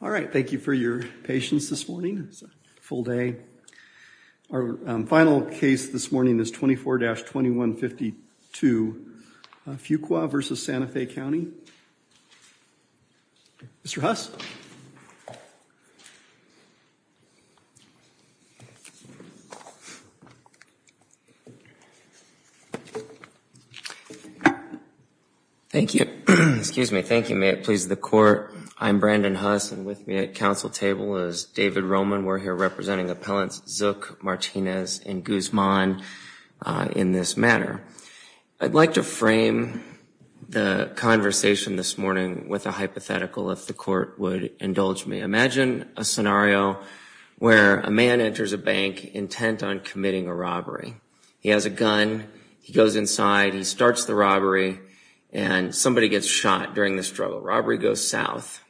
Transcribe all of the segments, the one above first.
All right, thank you for your patience this morning. It's a full day. Our final case this morning is 24-2152 Fuqua v. Santa Fe County. Mr. Huss? Thank you. Excuse me. Thank you. May it please the Court. I'm Brandon Huss, and with me at council table is David Roman. We're here representing Appellants Zook, Martinez, and Guzman in this matter. I'd like to frame the conversation this morning with a hypothetical, if the Court would indulge me. Imagine a scenario where a man enters a bank intent on committing a robbery. He has a gun. He goes inside. He starts the robbery, and somebody gets shot during the struggle. Robbery goes south.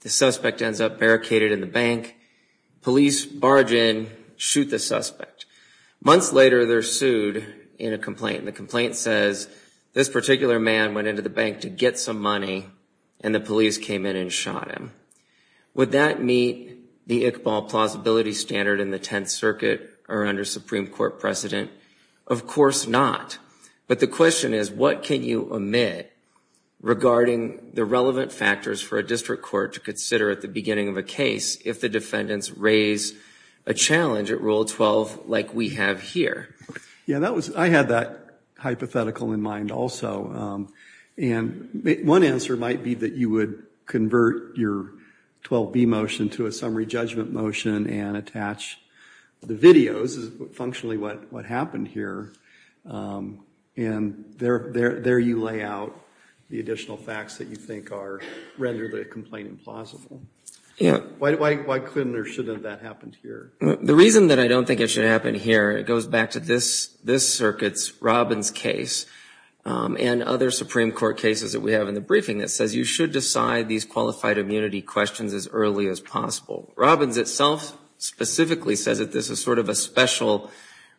The suspect ends up barricaded in the bank. Police barge in, shoot the suspect. Months later, they're sued in a complaint. The complaint says this particular man went into the bank to get some money, and the police came in and shot him. Would that meet the Iqbal plausibility standard in the Tenth Circuit or under Supreme Court precedent? Of course not. But the question is, what can you omit regarding the relevant factors for a district court to consider at the beginning of a case if the defendants raise a challenge at Rule 12 like we have here? Yeah, that was, I had that hypothetical in mind also, and one answer might be that you would convert your 12b motion to a summary judgment motion and attach the videos, is functionally what happened here, and there you lay out the additional facts that you think are, rather than complain implausible. Yeah. Why couldn't or shouldn't that happen here? The reason that I don't think it should happen here, it goes back to this circuit's Robbins case and other Supreme Court cases that we have in the briefing that says you should decide these qualified immunity questions as early as possible. Robbins itself specifically says that this is sort of a special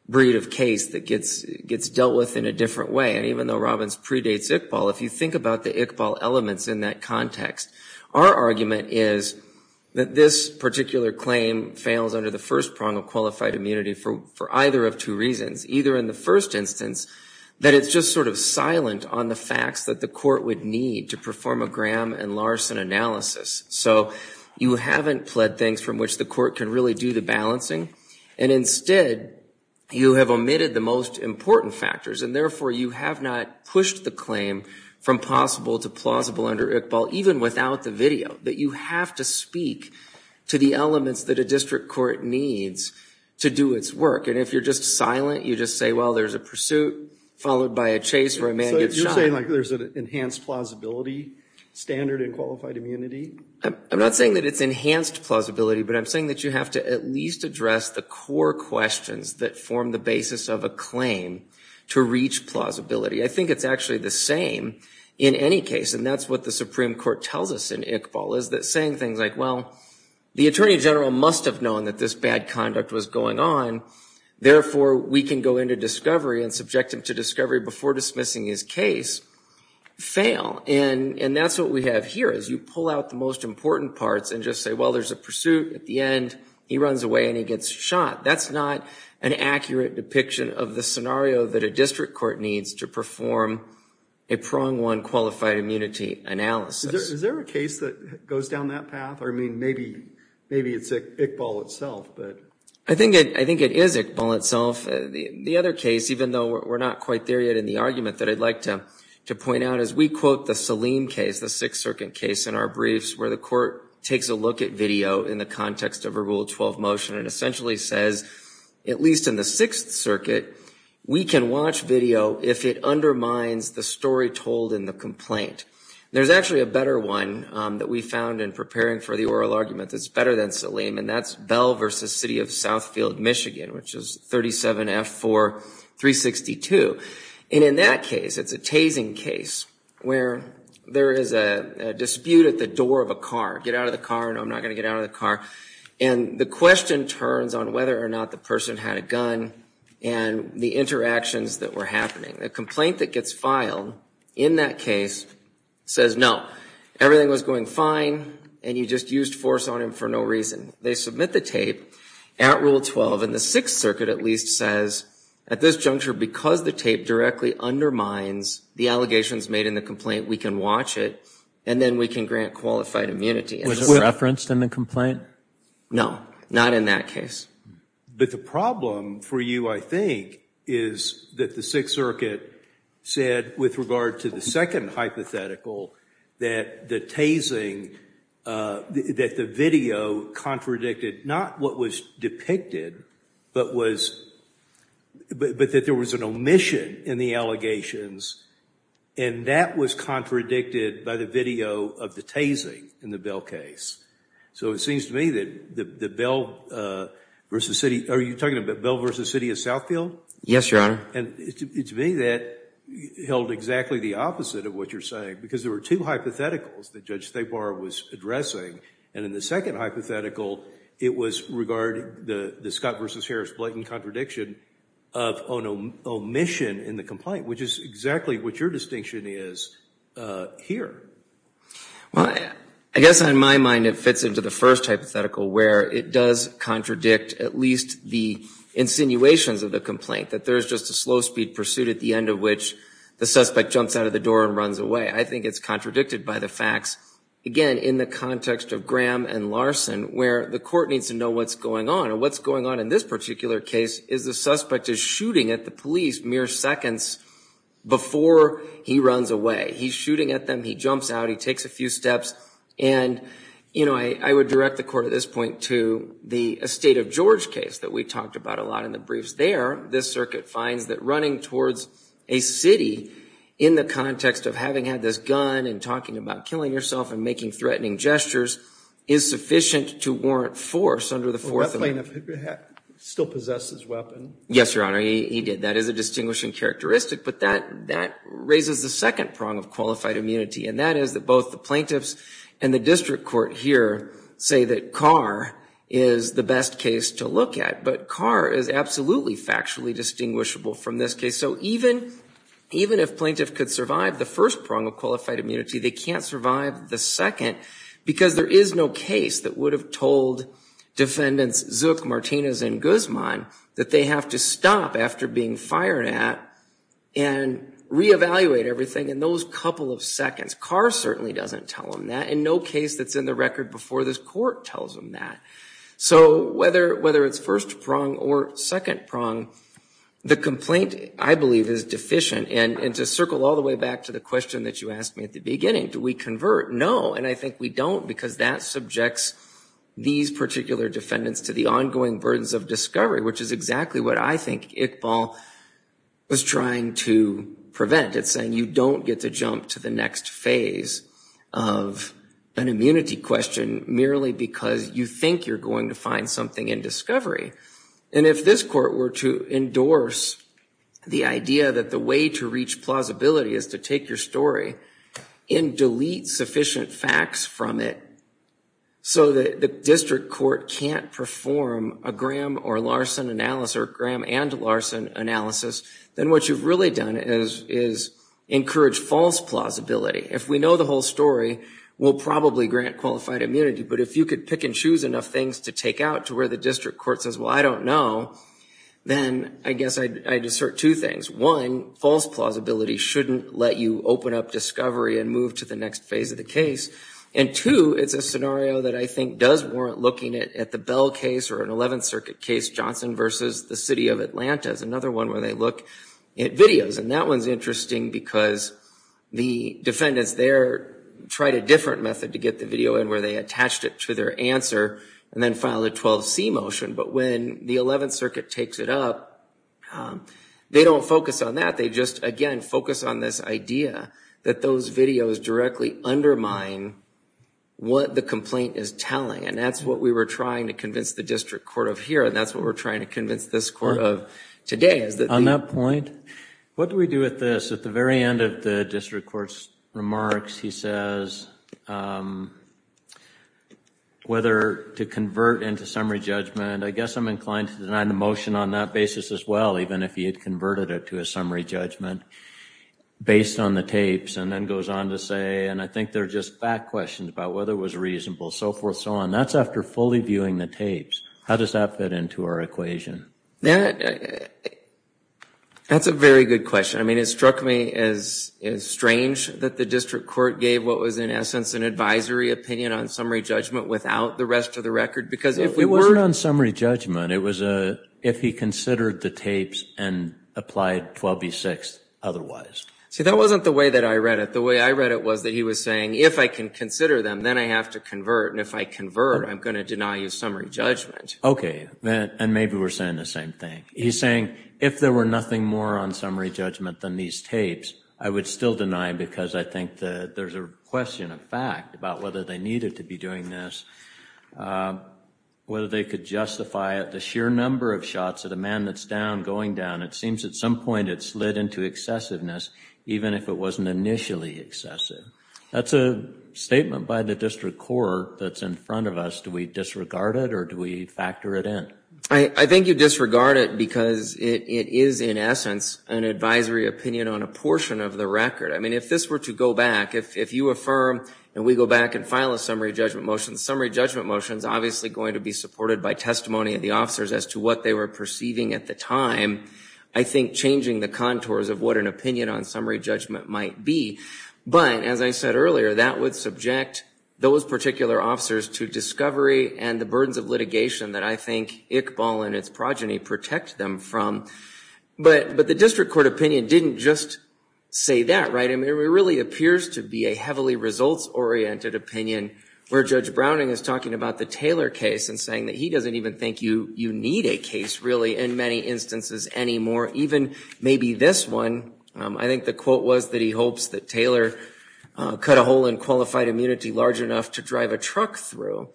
breed of case that gets dealt with in a different way, and even though Robbins predates Iqbal, if you think about the Iqbal elements in that context, our argument is that this particular claim fails under the first prong of qualified immunity for either of two reasons. Either in the first instance that it's just sort of silent on the facts that the court would need to perform a Graham and Larson analysis, so you haven't pled things from which the court can really do the balancing, and instead you have omitted the most important factors, and therefore you have not pushed the claim from possible to plausible under Iqbal, even without the video, that you have to speak to the elements that a district court needs to do its work, and if you're just silent you just say, well, there's a pursuit followed by a chase where a man gets shot. So you're saying like there's an enhanced plausibility standard in qualified immunity? I'm not saying that it's enhanced plausibility, but I'm saying that you have to at least address the core questions that form the basis of a claim to reach plausibility. I think it's actually the same in any case, and that's what the Supreme Court tells us in Iqbal, is that saying things like, well, the Attorney General must have known that this bad conduct was going on, therefore we can go into discovery and subject him to discovery before dismissing his case, fail. And that's what we have here, is you pull out the most important parts and just say, well, there's a pursuit at the end, he runs away and he gets shot. That's not an accurate depiction of the scenario that a district court needs to perform a prong one qualified immunity analysis. Is there a case that goes down that path? I mean, maybe it's Iqbal itself. I think it is Iqbal itself. The other case, even though we're not quite there yet in the argument, that I'd like to point out is we quote the Saleem case, the Sixth Circuit case in our briefs, where the court takes a look at video in the context of a Rule 12 motion and essentially says, at least in the Sixth Circuit, we can watch video if it undermines the story told in the complaint. There's actually a better one that we found in preparing for the oral argument that's better than Saleem, and that's Bell v. City of Southfield, Michigan, which is 37F4362. And in that case, it's a tasing case, where there is a dispute at the door of a car. Get out of the car. No, I'm not going to get out of the car. And the question turns on whether or not the person had a gun and the interactions that were happening. The complaint that gets filed in that case says, no, everything was going fine, and you just used force on him for no reason. They submit the tape at Rule 12, and the Sixth Circuit at least says, at this juncture, because the tape directly undermines the allegations made in the complaint, we can watch it, and then we can grant qualified immunity. Was it referenced in the complaint? No, not in that case. But the problem for you, I think, is that the Sixth Circuit said, with regard to the second hypothetical, that the tasing, that the video contradicted not what was depicted, but was, but that there was an omission in the allegations, and that was contradicted by the video of the tasing in the Bell case. So it seems to me that the Bell v. City, are you talking about Bell v. City of Southfield? Yes, Your Honor. And to me, that held exactly the opposite of what you're saying, because there were two hypotheticals that Judge Thabar was addressing, and in the second hypothetical, it was regarding the Scott v. Harris blatant contradiction of an omission in the complaint, which is exactly what your distinction is here. Well, I guess on my mind, it fits into the first hypothetical, where it does contradict at least the insinuations of the complaint, that there's just a slow speed pursuit at the end of which the suspect jumps out of the door and runs away. I think it's contradicted by the facts, again, in the context of Graham and Larson, where the court needs to know what's going on, and what's going on in this particular case is the suspect is shooting at the police mere seconds before he runs away. He's shooting at them, he jumps out, he takes a few steps, and you know, I would direct the court at this point to the estate of George case that we talked about a lot in the briefs there. This circuit finds that running towards a city in the context of having had this gun, and talking about killing yourself, and making threatening gestures is sufficient to warrant force under the fourth amendment. Still possesses weapon? Yes, your honor, he did. That is a distinguishing characteristic, but that that raises the second prong of qualified immunity, and that is that both the plaintiffs and the district court here say that Carr is the best case to look at, but Carr is absolutely factually distinguishable from this case. So even even if plaintiff could survive the first prong of qualified immunity, they can't survive the second, because there is no case that would have told defendants Zook, Martinez, and Guzman that they have to stop after being fired at, and re-evaluate everything in those couple of seconds. Carr certainly doesn't tell them that, and no case that's in the record before this court tells them that. So whether whether it's first prong or second prong, the complaint I believe is deficient, and to circle all the way back to the question that you asked me at the beginning, do we convert? No, and I think we don't, because that subjects these particular defendants to the ongoing burdens of discovery, which is exactly what I think Iqbal was trying to prevent. It's saying you don't get to jump to the next phase of an immunity question merely because you think you're going to find something in discovery, and if this court were to endorse the idea that the way to reach plausibility is to take your story and delete sufficient facts from it, so that the district court can't perform a Graham or Larson analysis, or Graham and Larson analysis, then what you've really done is is encourage false plausibility. If we know the whole story, we'll probably grant qualified immunity, but if you could pick and choose enough things to take out to where the district court says, well I don't know, then I guess I'd assert two things. One, false plausibility shouldn't let you open up discovery and move to the next phase of the case, and two, it's a scenario that I think does warrant looking at the Bell case or an 11th Circuit case, Johnson versus the City of Atlanta, is another one where they look at videos, and that one's interesting because the defendants there tried a different method to get the video in where they attached it to their answer and then filed a 12c motion, but when the 11th Circuit takes it up, they don't focus on that, they just again focus on this idea that those videos directly undermine what the complaint is telling, and that's what we were trying to convince the district court of here, and that's what we're trying to convince this court of today. On that point, what do we do with this? At the very end of the district court's remarks, he says whether to convert into summary judgment, I guess I'm inclined to deny the motion on that basis as well, even if he had converted it to a summary judgment based on the tapes, and then goes on to say, and I think they're just back questions about whether it was reasonable, so forth, so on. That's after fully viewing the tapes. How does that fit into our equation? That's a very good question. I mean, it struck me as strange that the district court gave what was in essence an advisory opinion on summary judgment without the rest of the record, because if we weren't on summary judgment, it was a, if he considered the tapes and applied 12b-6 otherwise. See, that wasn't the way that I read it. The way I read it was that he was saying, if I can consider them, then I have to convert, and if I convert, I'm going to deny you summary judgment. Okay, and maybe we're saying the same thing. He's saying, if there were nothing more on summary judgment than these tapes, I would still deny, because I think that there's a question of fact about whether they needed to be doing this, whether they could justify it, the sheer number of shots at a man that's down, going down. It seems at some point it slid into excessiveness, even if it wasn't initially excessive. That's a statement by the district court that's in front of us. Do we disregard it, or do we factor it in? I think you disregard it because it is, in essence, an advisory opinion on a portion of the record. I mean, if this were to go back, if you affirm and we go back and file a summary judgment motion, the summary judgment motion is obviously going to be supported by testimony of the officers as to what they were perceiving at the time. I think changing the contours of what an opinion on summary judgment might be, but as I said earlier, that would subject those particular officers to discovery and the burdens of litigation that I think Iqbal and its progeny protect them from, but the district court opinion didn't just say that, right? I mean, it really appears to be a heavily results oriented opinion where Judge Browning is talking about the Taylor case and saying that he doesn't even think you need a case, really, in many instances anymore. Even maybe this one, I think the quote was that he hopes that Taylor cut a hole in qualified immunity large enough to drive a truck through,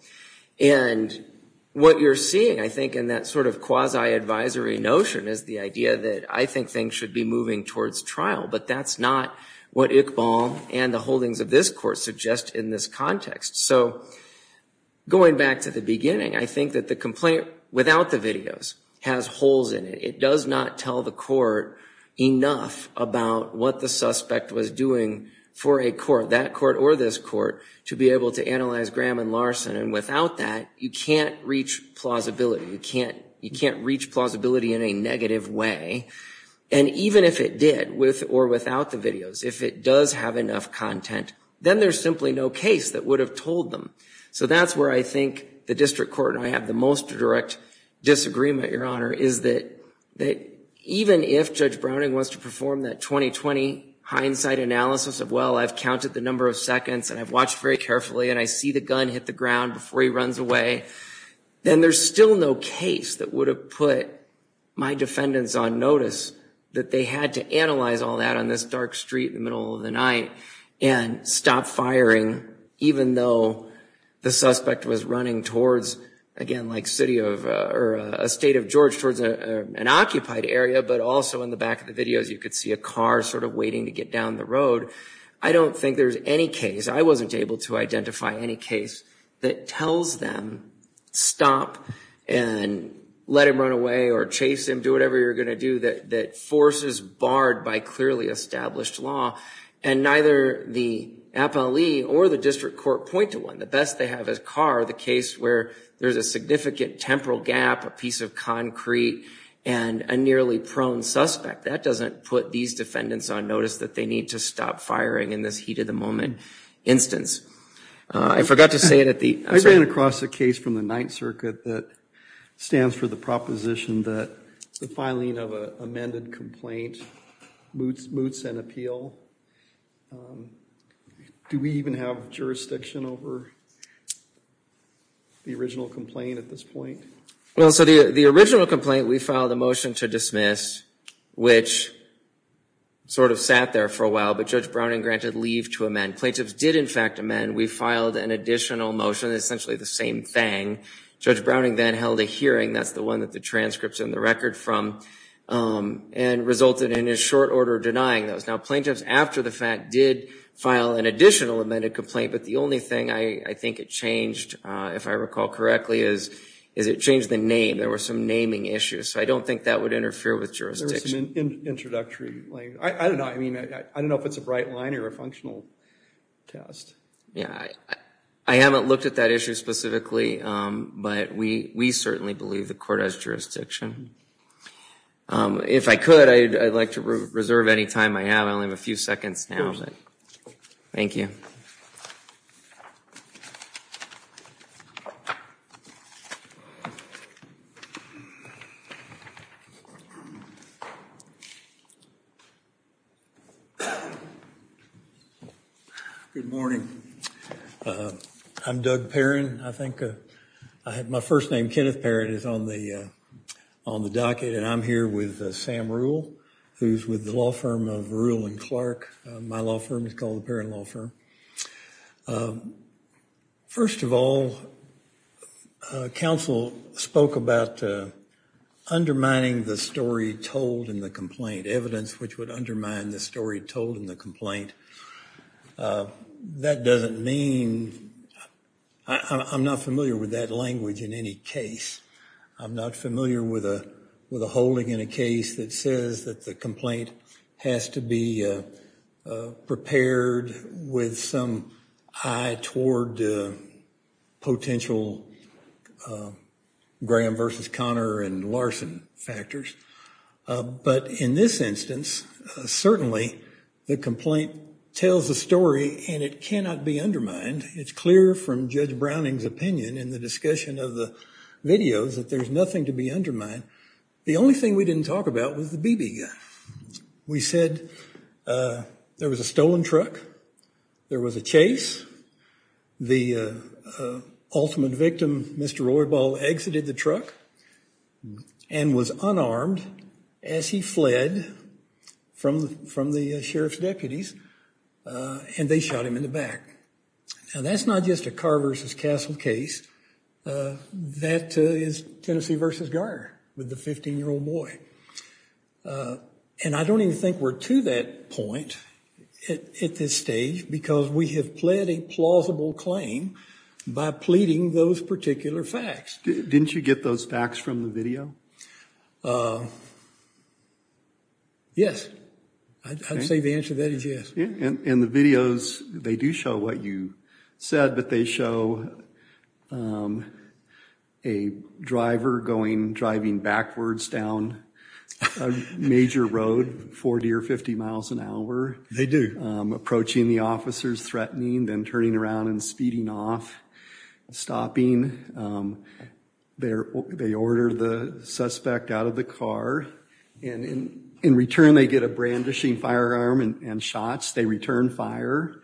and what you're seeing, I think, in that sort of quasi advisory notion is the idea that I think things should be moving towards trial, but that's not what Iqbal and the holdings of this court suggest in this context. So going back to the beginning, I think that the complaint without the videos has holes in it. It does not tell the court enough about what the suspect was doing for a court, that court or this court, to be able to analyze Graham and Larson, and without that, you can't reach plausibility. You can't reach plausibility in a negative way, and even if it did, with or without the videos, if it does have enough content, then there's simply no case that would have told them. So that's where I think the district court and I have the most direct disagreement, Your Honor, is that even if Judge Browning wants to perform that 20-20 hindsight analysis of, well, I've counted the number of seconds and I've watched very carefully and I see the gun hit the ground before he runs away, then there's still no case that would have put my defendants on notice that they had to analyze all that on this dark street in the middle of the night and stop firing, even though the suspect was running towards, again, like City of, or a State of George, towards an occupied area, but also in the back of the videos you could see a car sort of waiting to get down the road. I don't think there's any case, I wasn't able to identify any case, that tells them, stop and let him run away or chase him, do whatever you're going to do, that forces Bard by clearly established law, and neither the appellee or the district court point to one. The best they have is Carr, the case where there's a significant temporal gap, a piece of concrete, and a nearly prone suspect. That doesn't put these defendants on notice that they need to stop firing in this heat-of-the-moment instance. I forgot to say it at the, I'm sorry. I ran across a case from the Ninth Circuit that stands for the proposition that the filing of an amended complaint moots an appeal. Do we even have jurisdiction over the original complaint at this point? Well, so the original complaint, we filed a motion to dismiss, which sort of sat there for a while, but Judge Browning granted leave to amend. Plaintiffs did, in fact, amend. We filed an additional motion, essentially the same thing. Judge Browning then held a hearing, that's the one that the transcripts and the record from, and resulted in his short order denying those. Now plaintiffs, after the fact, did file an additional amended complaint, but the only thing I think it changed, if I recall correctly, is it changed the name. There were some naming issues, so I don't think that would interfere with jurisdiction. I don't know, I mean, I don't know if it's a bright line or a functional test. Yeah, I haven't looked at that issue specifically, but we certainly believe the court has jurisdiction. If I could, I'd like to reserve any time I have. I only have a few seconds now. Thank you. Good morning. I'm Doug Perrin. I think I had, my first name, Kenneth Perrin, is on the, on the docket, and I'm here with Sam Rule, who's with the law firm of Rule and Clark. My law firm is called the Perrin Law Firm. First of all, counsel spoke about undermining the story told in the complaint, evidence which would undermine the story told in the complaint. That doesn't mean, I'm not familiar with that language in any case. I'm not familiar with a, with a holding in a case that says that the complaint has to be prepared with some eye toward potential Graham versus Connor and Larson factors, but in this instance, certainly the complaint tells the story and it cannot be undermined. It's clear from Judge Browning's opinion in the discussion of the videos that there's nothing to be undermined. The only thing we didn't talk about was the BB gun. We said there was a Mr. Roybal exited the truck and was unarmed as he fled from the sheriff's deputies, and they shot him in the back. Now that's not just a Carr versus Castle case. That is Tennessee versus Garner with the 15-year-old boy, and I don't even think we're to that point at this stage because we have a plausible claim by pleading those particular facts. Didn't you get those facts from the video? Yes, I'd say the answer to that is yes. And the videos, they do show what you said, but they show a driver going, driving backwards down a major road, 40 or 50 miles an hour. They do. Approaching the officers, threatening, then turning around and speeding off, stopping. They order the suspect out of the car, and in return they get a brandishing firearm and shots. They return fire.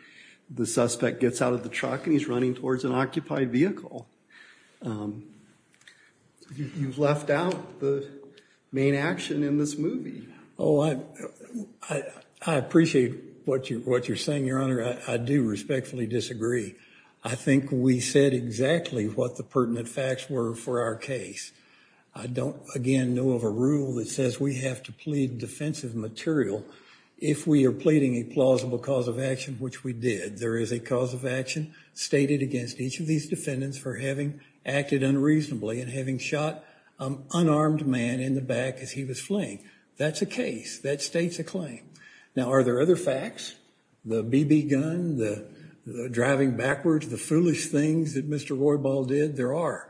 The suspect gets out of the truck and he's running towards an occupied vehicle. You've left out the main action in this movie. Oh, I appreciate what you're saying, Your Honor. I do respectfully disagree. I think we said exactly what the pertinent facts were for our case. I don't, again, know of a rule that says we have to plead defensive material if we are pleading a plausible cause of action, which we did. There is a cause of action stated against each of these defendants for having acted unreasonably and having shot an unarmed man in the back as he was fleeing. That's a case. That states a claim. Now, are there other facts? The BB gun, the driving backwards, the foolish things that Mr. Roybal did? There are.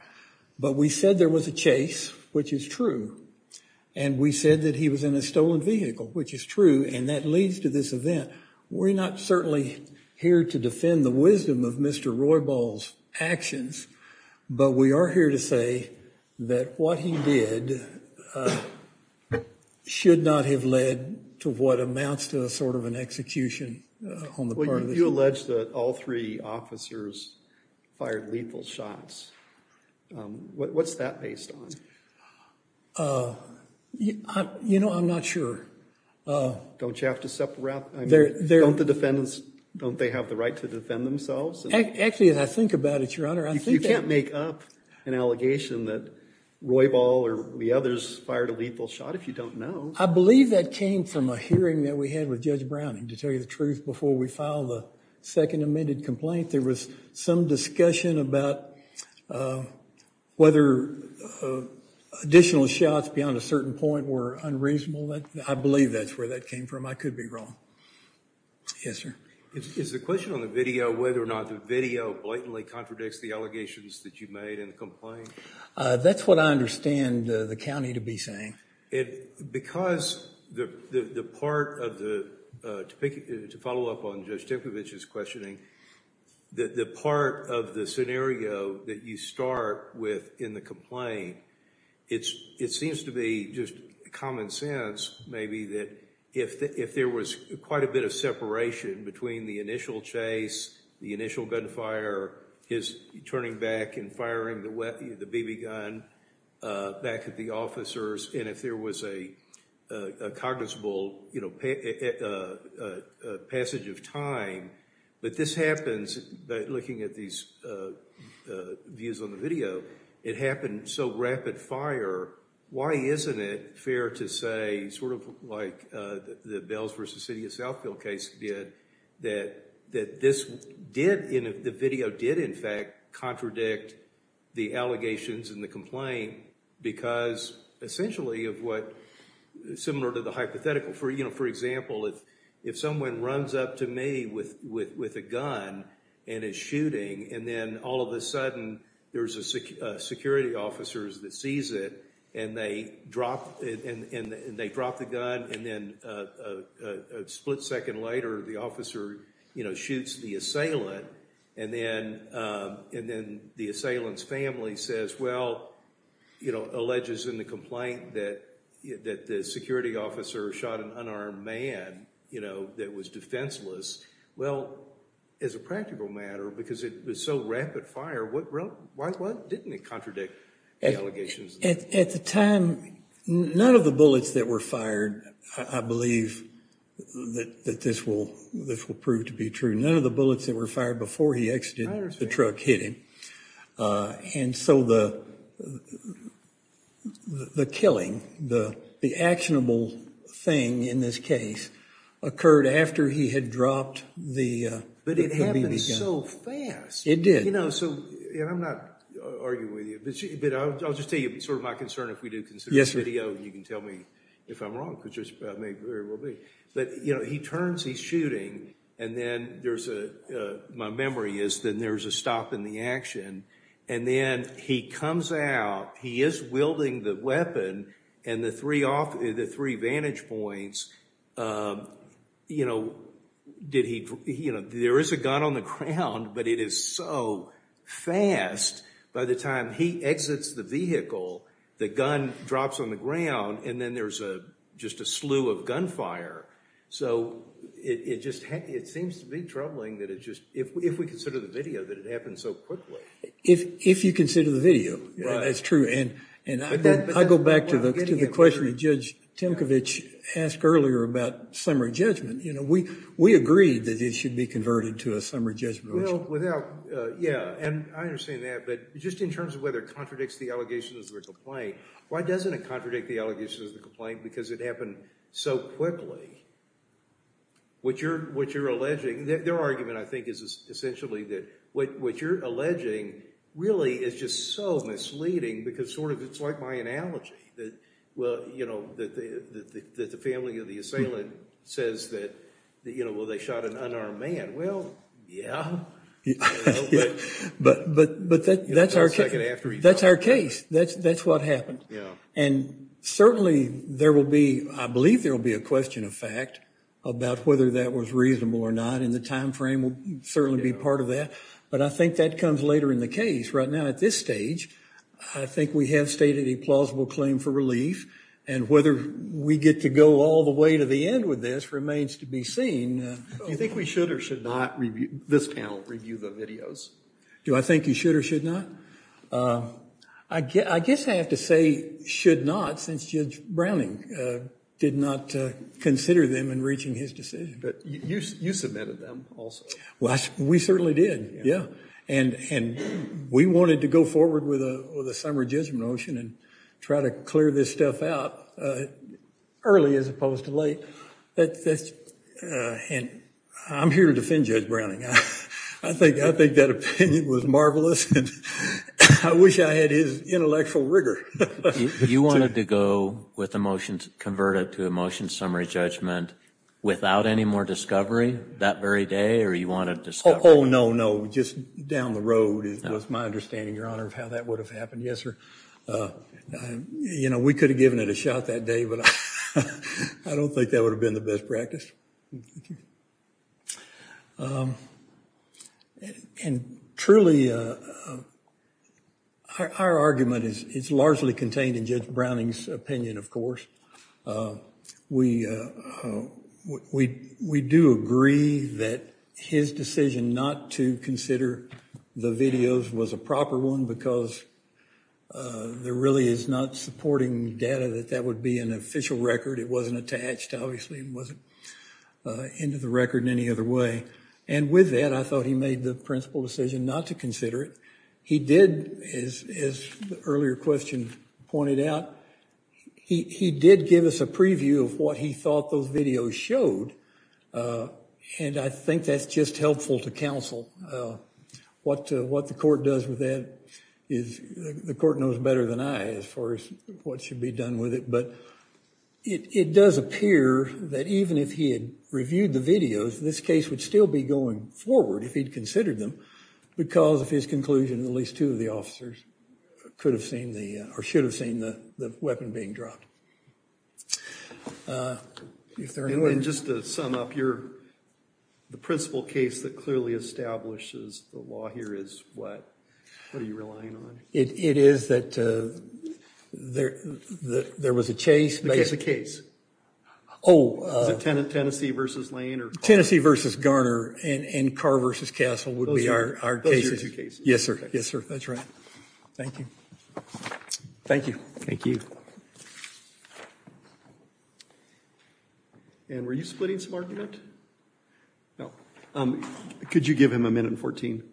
But we said there was a chase, which is true, and we said that he was in a stolen vehicle, which is true, and that leads to this event. We're not certainly here to defend the wisdom of Mr. Roybal's but we are here to say that what he did should not have led to what amounts to a sort of an execution on the part of the jury. You allege that all three officers fired lethal shots. What's that based on? You know, I'm not sure. Don't you have to separate? Don't the defendants, don't they have the right to defend themselves? Actually, as I think about it, Your Honor, I think that- You can't make up an allegation that Roybal or the others fired a lethal shot if you don't know. I believe that came from a hearing that we had with Judge Browning, to tell you the truth, before we filed the second amended complaint. There was some discussion about whether additional shots beyond a certain point were unreasonable. I believe that's where that came from. I could be wrong. Yes, sir. Is the question on the video whether or not the video blatantly contradicts the allegations that you made in the complaint? That's what I understand the county to be saying. Because the part of the, to follow up on Judge Tinkovich's questioning, that the part of the scenario that you start with in the complaint, it seems to be just common sense, maybe, that if there was quite a bit of separation between the initial chase, the initial gunfire, his turning back and firing the BB gun back at the officers, and if there was a cognizable, you know, passage of time, but this happens by looking at these views on the video, it happened so rapid fire, why isn't it fair to say, sort of like the Bells v. City of Southfield case did, that this did, the video did, in fact, contradict the allegations in the complaint because essentially of what, similar to the hypothetical, for you know, for example, if someone runs up to me with a gun and is shooting, and then all of a sudden there's a security officers that sees it, and they drop the gun, and then a split second later the officer, you know, shoots the assailant, and then the assailant's family says, well, you know, alleges in the complaint that the security officer shot an unarmed man, you know, that was defenseless. Well, as a practical matter, because it was so rapid fire, what didn't it contradict the allegations? At the time, none of the bullets that were fired, I believe, that this will prove to be true, none of the bullets that were fired before he exited the truck hit him, and so the killing, the actionable thing in this case, occurred after he had dropped the gun. But it happened so fast. It did. You know, so I'm not arguing with you, but I'll just tell you sort of my concern if we do consider this video, you can tell me if I'm wrong, because there may very well be. But, you know, he turns, he's shooting, and then there's a, my memory is, then there's a stop in the action, and then he comes out, he is wielding the weapon, and the three off, the three vantage points, you know, did he, you know, there is a gun on the ground, but it is so fast. By the time he exits the vehicle, the gun drops on the ground, and then there's a just a slew of gunfire. So it just, it seems to be troubling that it just, if we consider the video, that it happened so quickly. If you consider the video, that's true, and I go back to the question that Judge Timkovich asked earlier about summary judgment, you know, we agreed that it should be converted to a summary judgment. Well, without, yeah, and I understand that, but just in terms of whether it contradicts the allegations of a complaint, why doesn't it contradict the allegations of the complaint, because it happened so quickly? What you're, what you're alleging, their argument, I think, is essentially that what you're alleging really is just so misleading, because sort of, it's like my analogy, that, well, you know, that the family of the assailant says that, you know, well, they shot an unarmed man. Well, yeah, but, but, but that's our, that's our case. That's, that's what happened, and certainly there will be, I believe there will be a question of fact about whether that was reasonable or not, and the time frame will certainly be part of that, but I think that comes later in the case. Right now, at this stage, I think we have stated a plausible claim for relief, and whether we get to go all the way to the end with this remains to be seen. Do you think we should or should not review, this panel, review the videos? Do I think you should or should not? I guess, I guess I have to say should not, since Judge Browning did not consider them in reaching his decision. But you, you submitted them also. Well, we certainly did, yeah, and, and we wanted to go forward with a, with a summary judgment motion and try to clear this stuff out early as opposed to late. That, that's, and I'm here to defend Judge Browning. I think, I think that opinion was marvelous, and I wish I had his intellectual rigor. You wanted to go with a motion to convert it to a motion summary judgment without any more discovery that very day, or you wanted to stop? Oh, no, no, just down the road. It was my understanding, Your Honor, of how that would have happened. Yes, sir. You know, we could have given it a shot that day, but I don't think that would have been the best practice. And truly, our argument is, it's largely contained in Judge Browning's opinion, of course. We, we, we do agree that his decision not to consider the videos was a proper one because there really is not supporting data that that would be an official record. It wasn't attached, obviously, and wasn't into the record in any other way. And with that, I thought he made the principal decision not to consider it. He did, as the earlier question pointed out, he did give us a preview of what he thought those videos showed, and I think that's just helpful to counsel. What, what the court does with that is, the court knows better than I as far as what should be done with it, but it does appear that even if he had reviewed the videos, this case would still be going forward if he'd considered them because of his conclusion at least two of the the weapon being dropped. If there anyone... And just to sum up, you're, the principal case that clearly establishes the law here is what, what are you relying on? It is that there, there was a chase. The case, the case. Oh. Tennessee versus Lane or... Tennessee versus Garner and, and Carr versus Castle would be our cases. Yes, sir. Yes, sir. That's right. Thank you. Thank you. Thank you. And were you splitting some argument? No. Could you give him a minute and 14?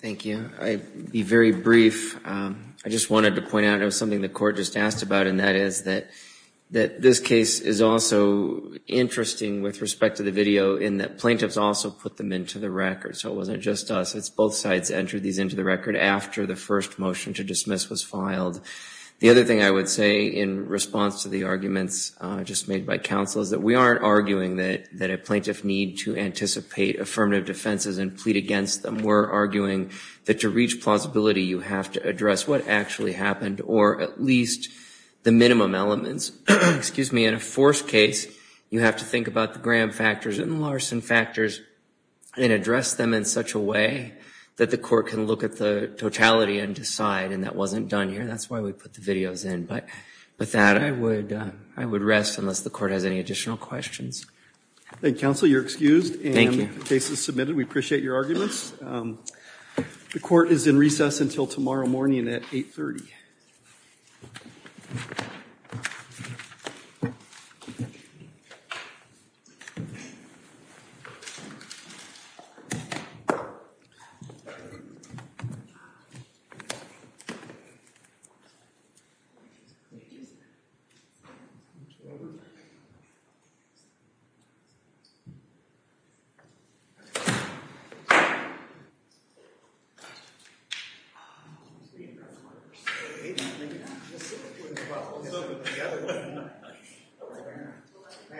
Thank you. I'll be very brief. I just wanted to point out, it was something the court just asked about, and that is that, that this case is also interesting with respect to the video in that plaintiffs also put them into the record. So it wasn't just us, it's both sides entered these into the record after the first motion to dismiss was filed. The other thing I would say in response to the arguments just made by counsel is that we aren't arguing that, that a plaintiff need to anticipate affirmative defenses and plead against them. We're arguing that to reach plausibility you have to address what actually happened or at least the minimum elements. Excuse me, in the fourth case you have to think about the Graham factors and Larson factors and address them in such a way that the court can look at the totality and decide, and that wasn't done here. That's why we put the videos in, but, but that I would, I would rest unless the court has any additional questions. Thank you, counsel. You're excused. Thank you. The case is submitted. We appreciate your arguments. The court is in recess until tomorrow morning at 830.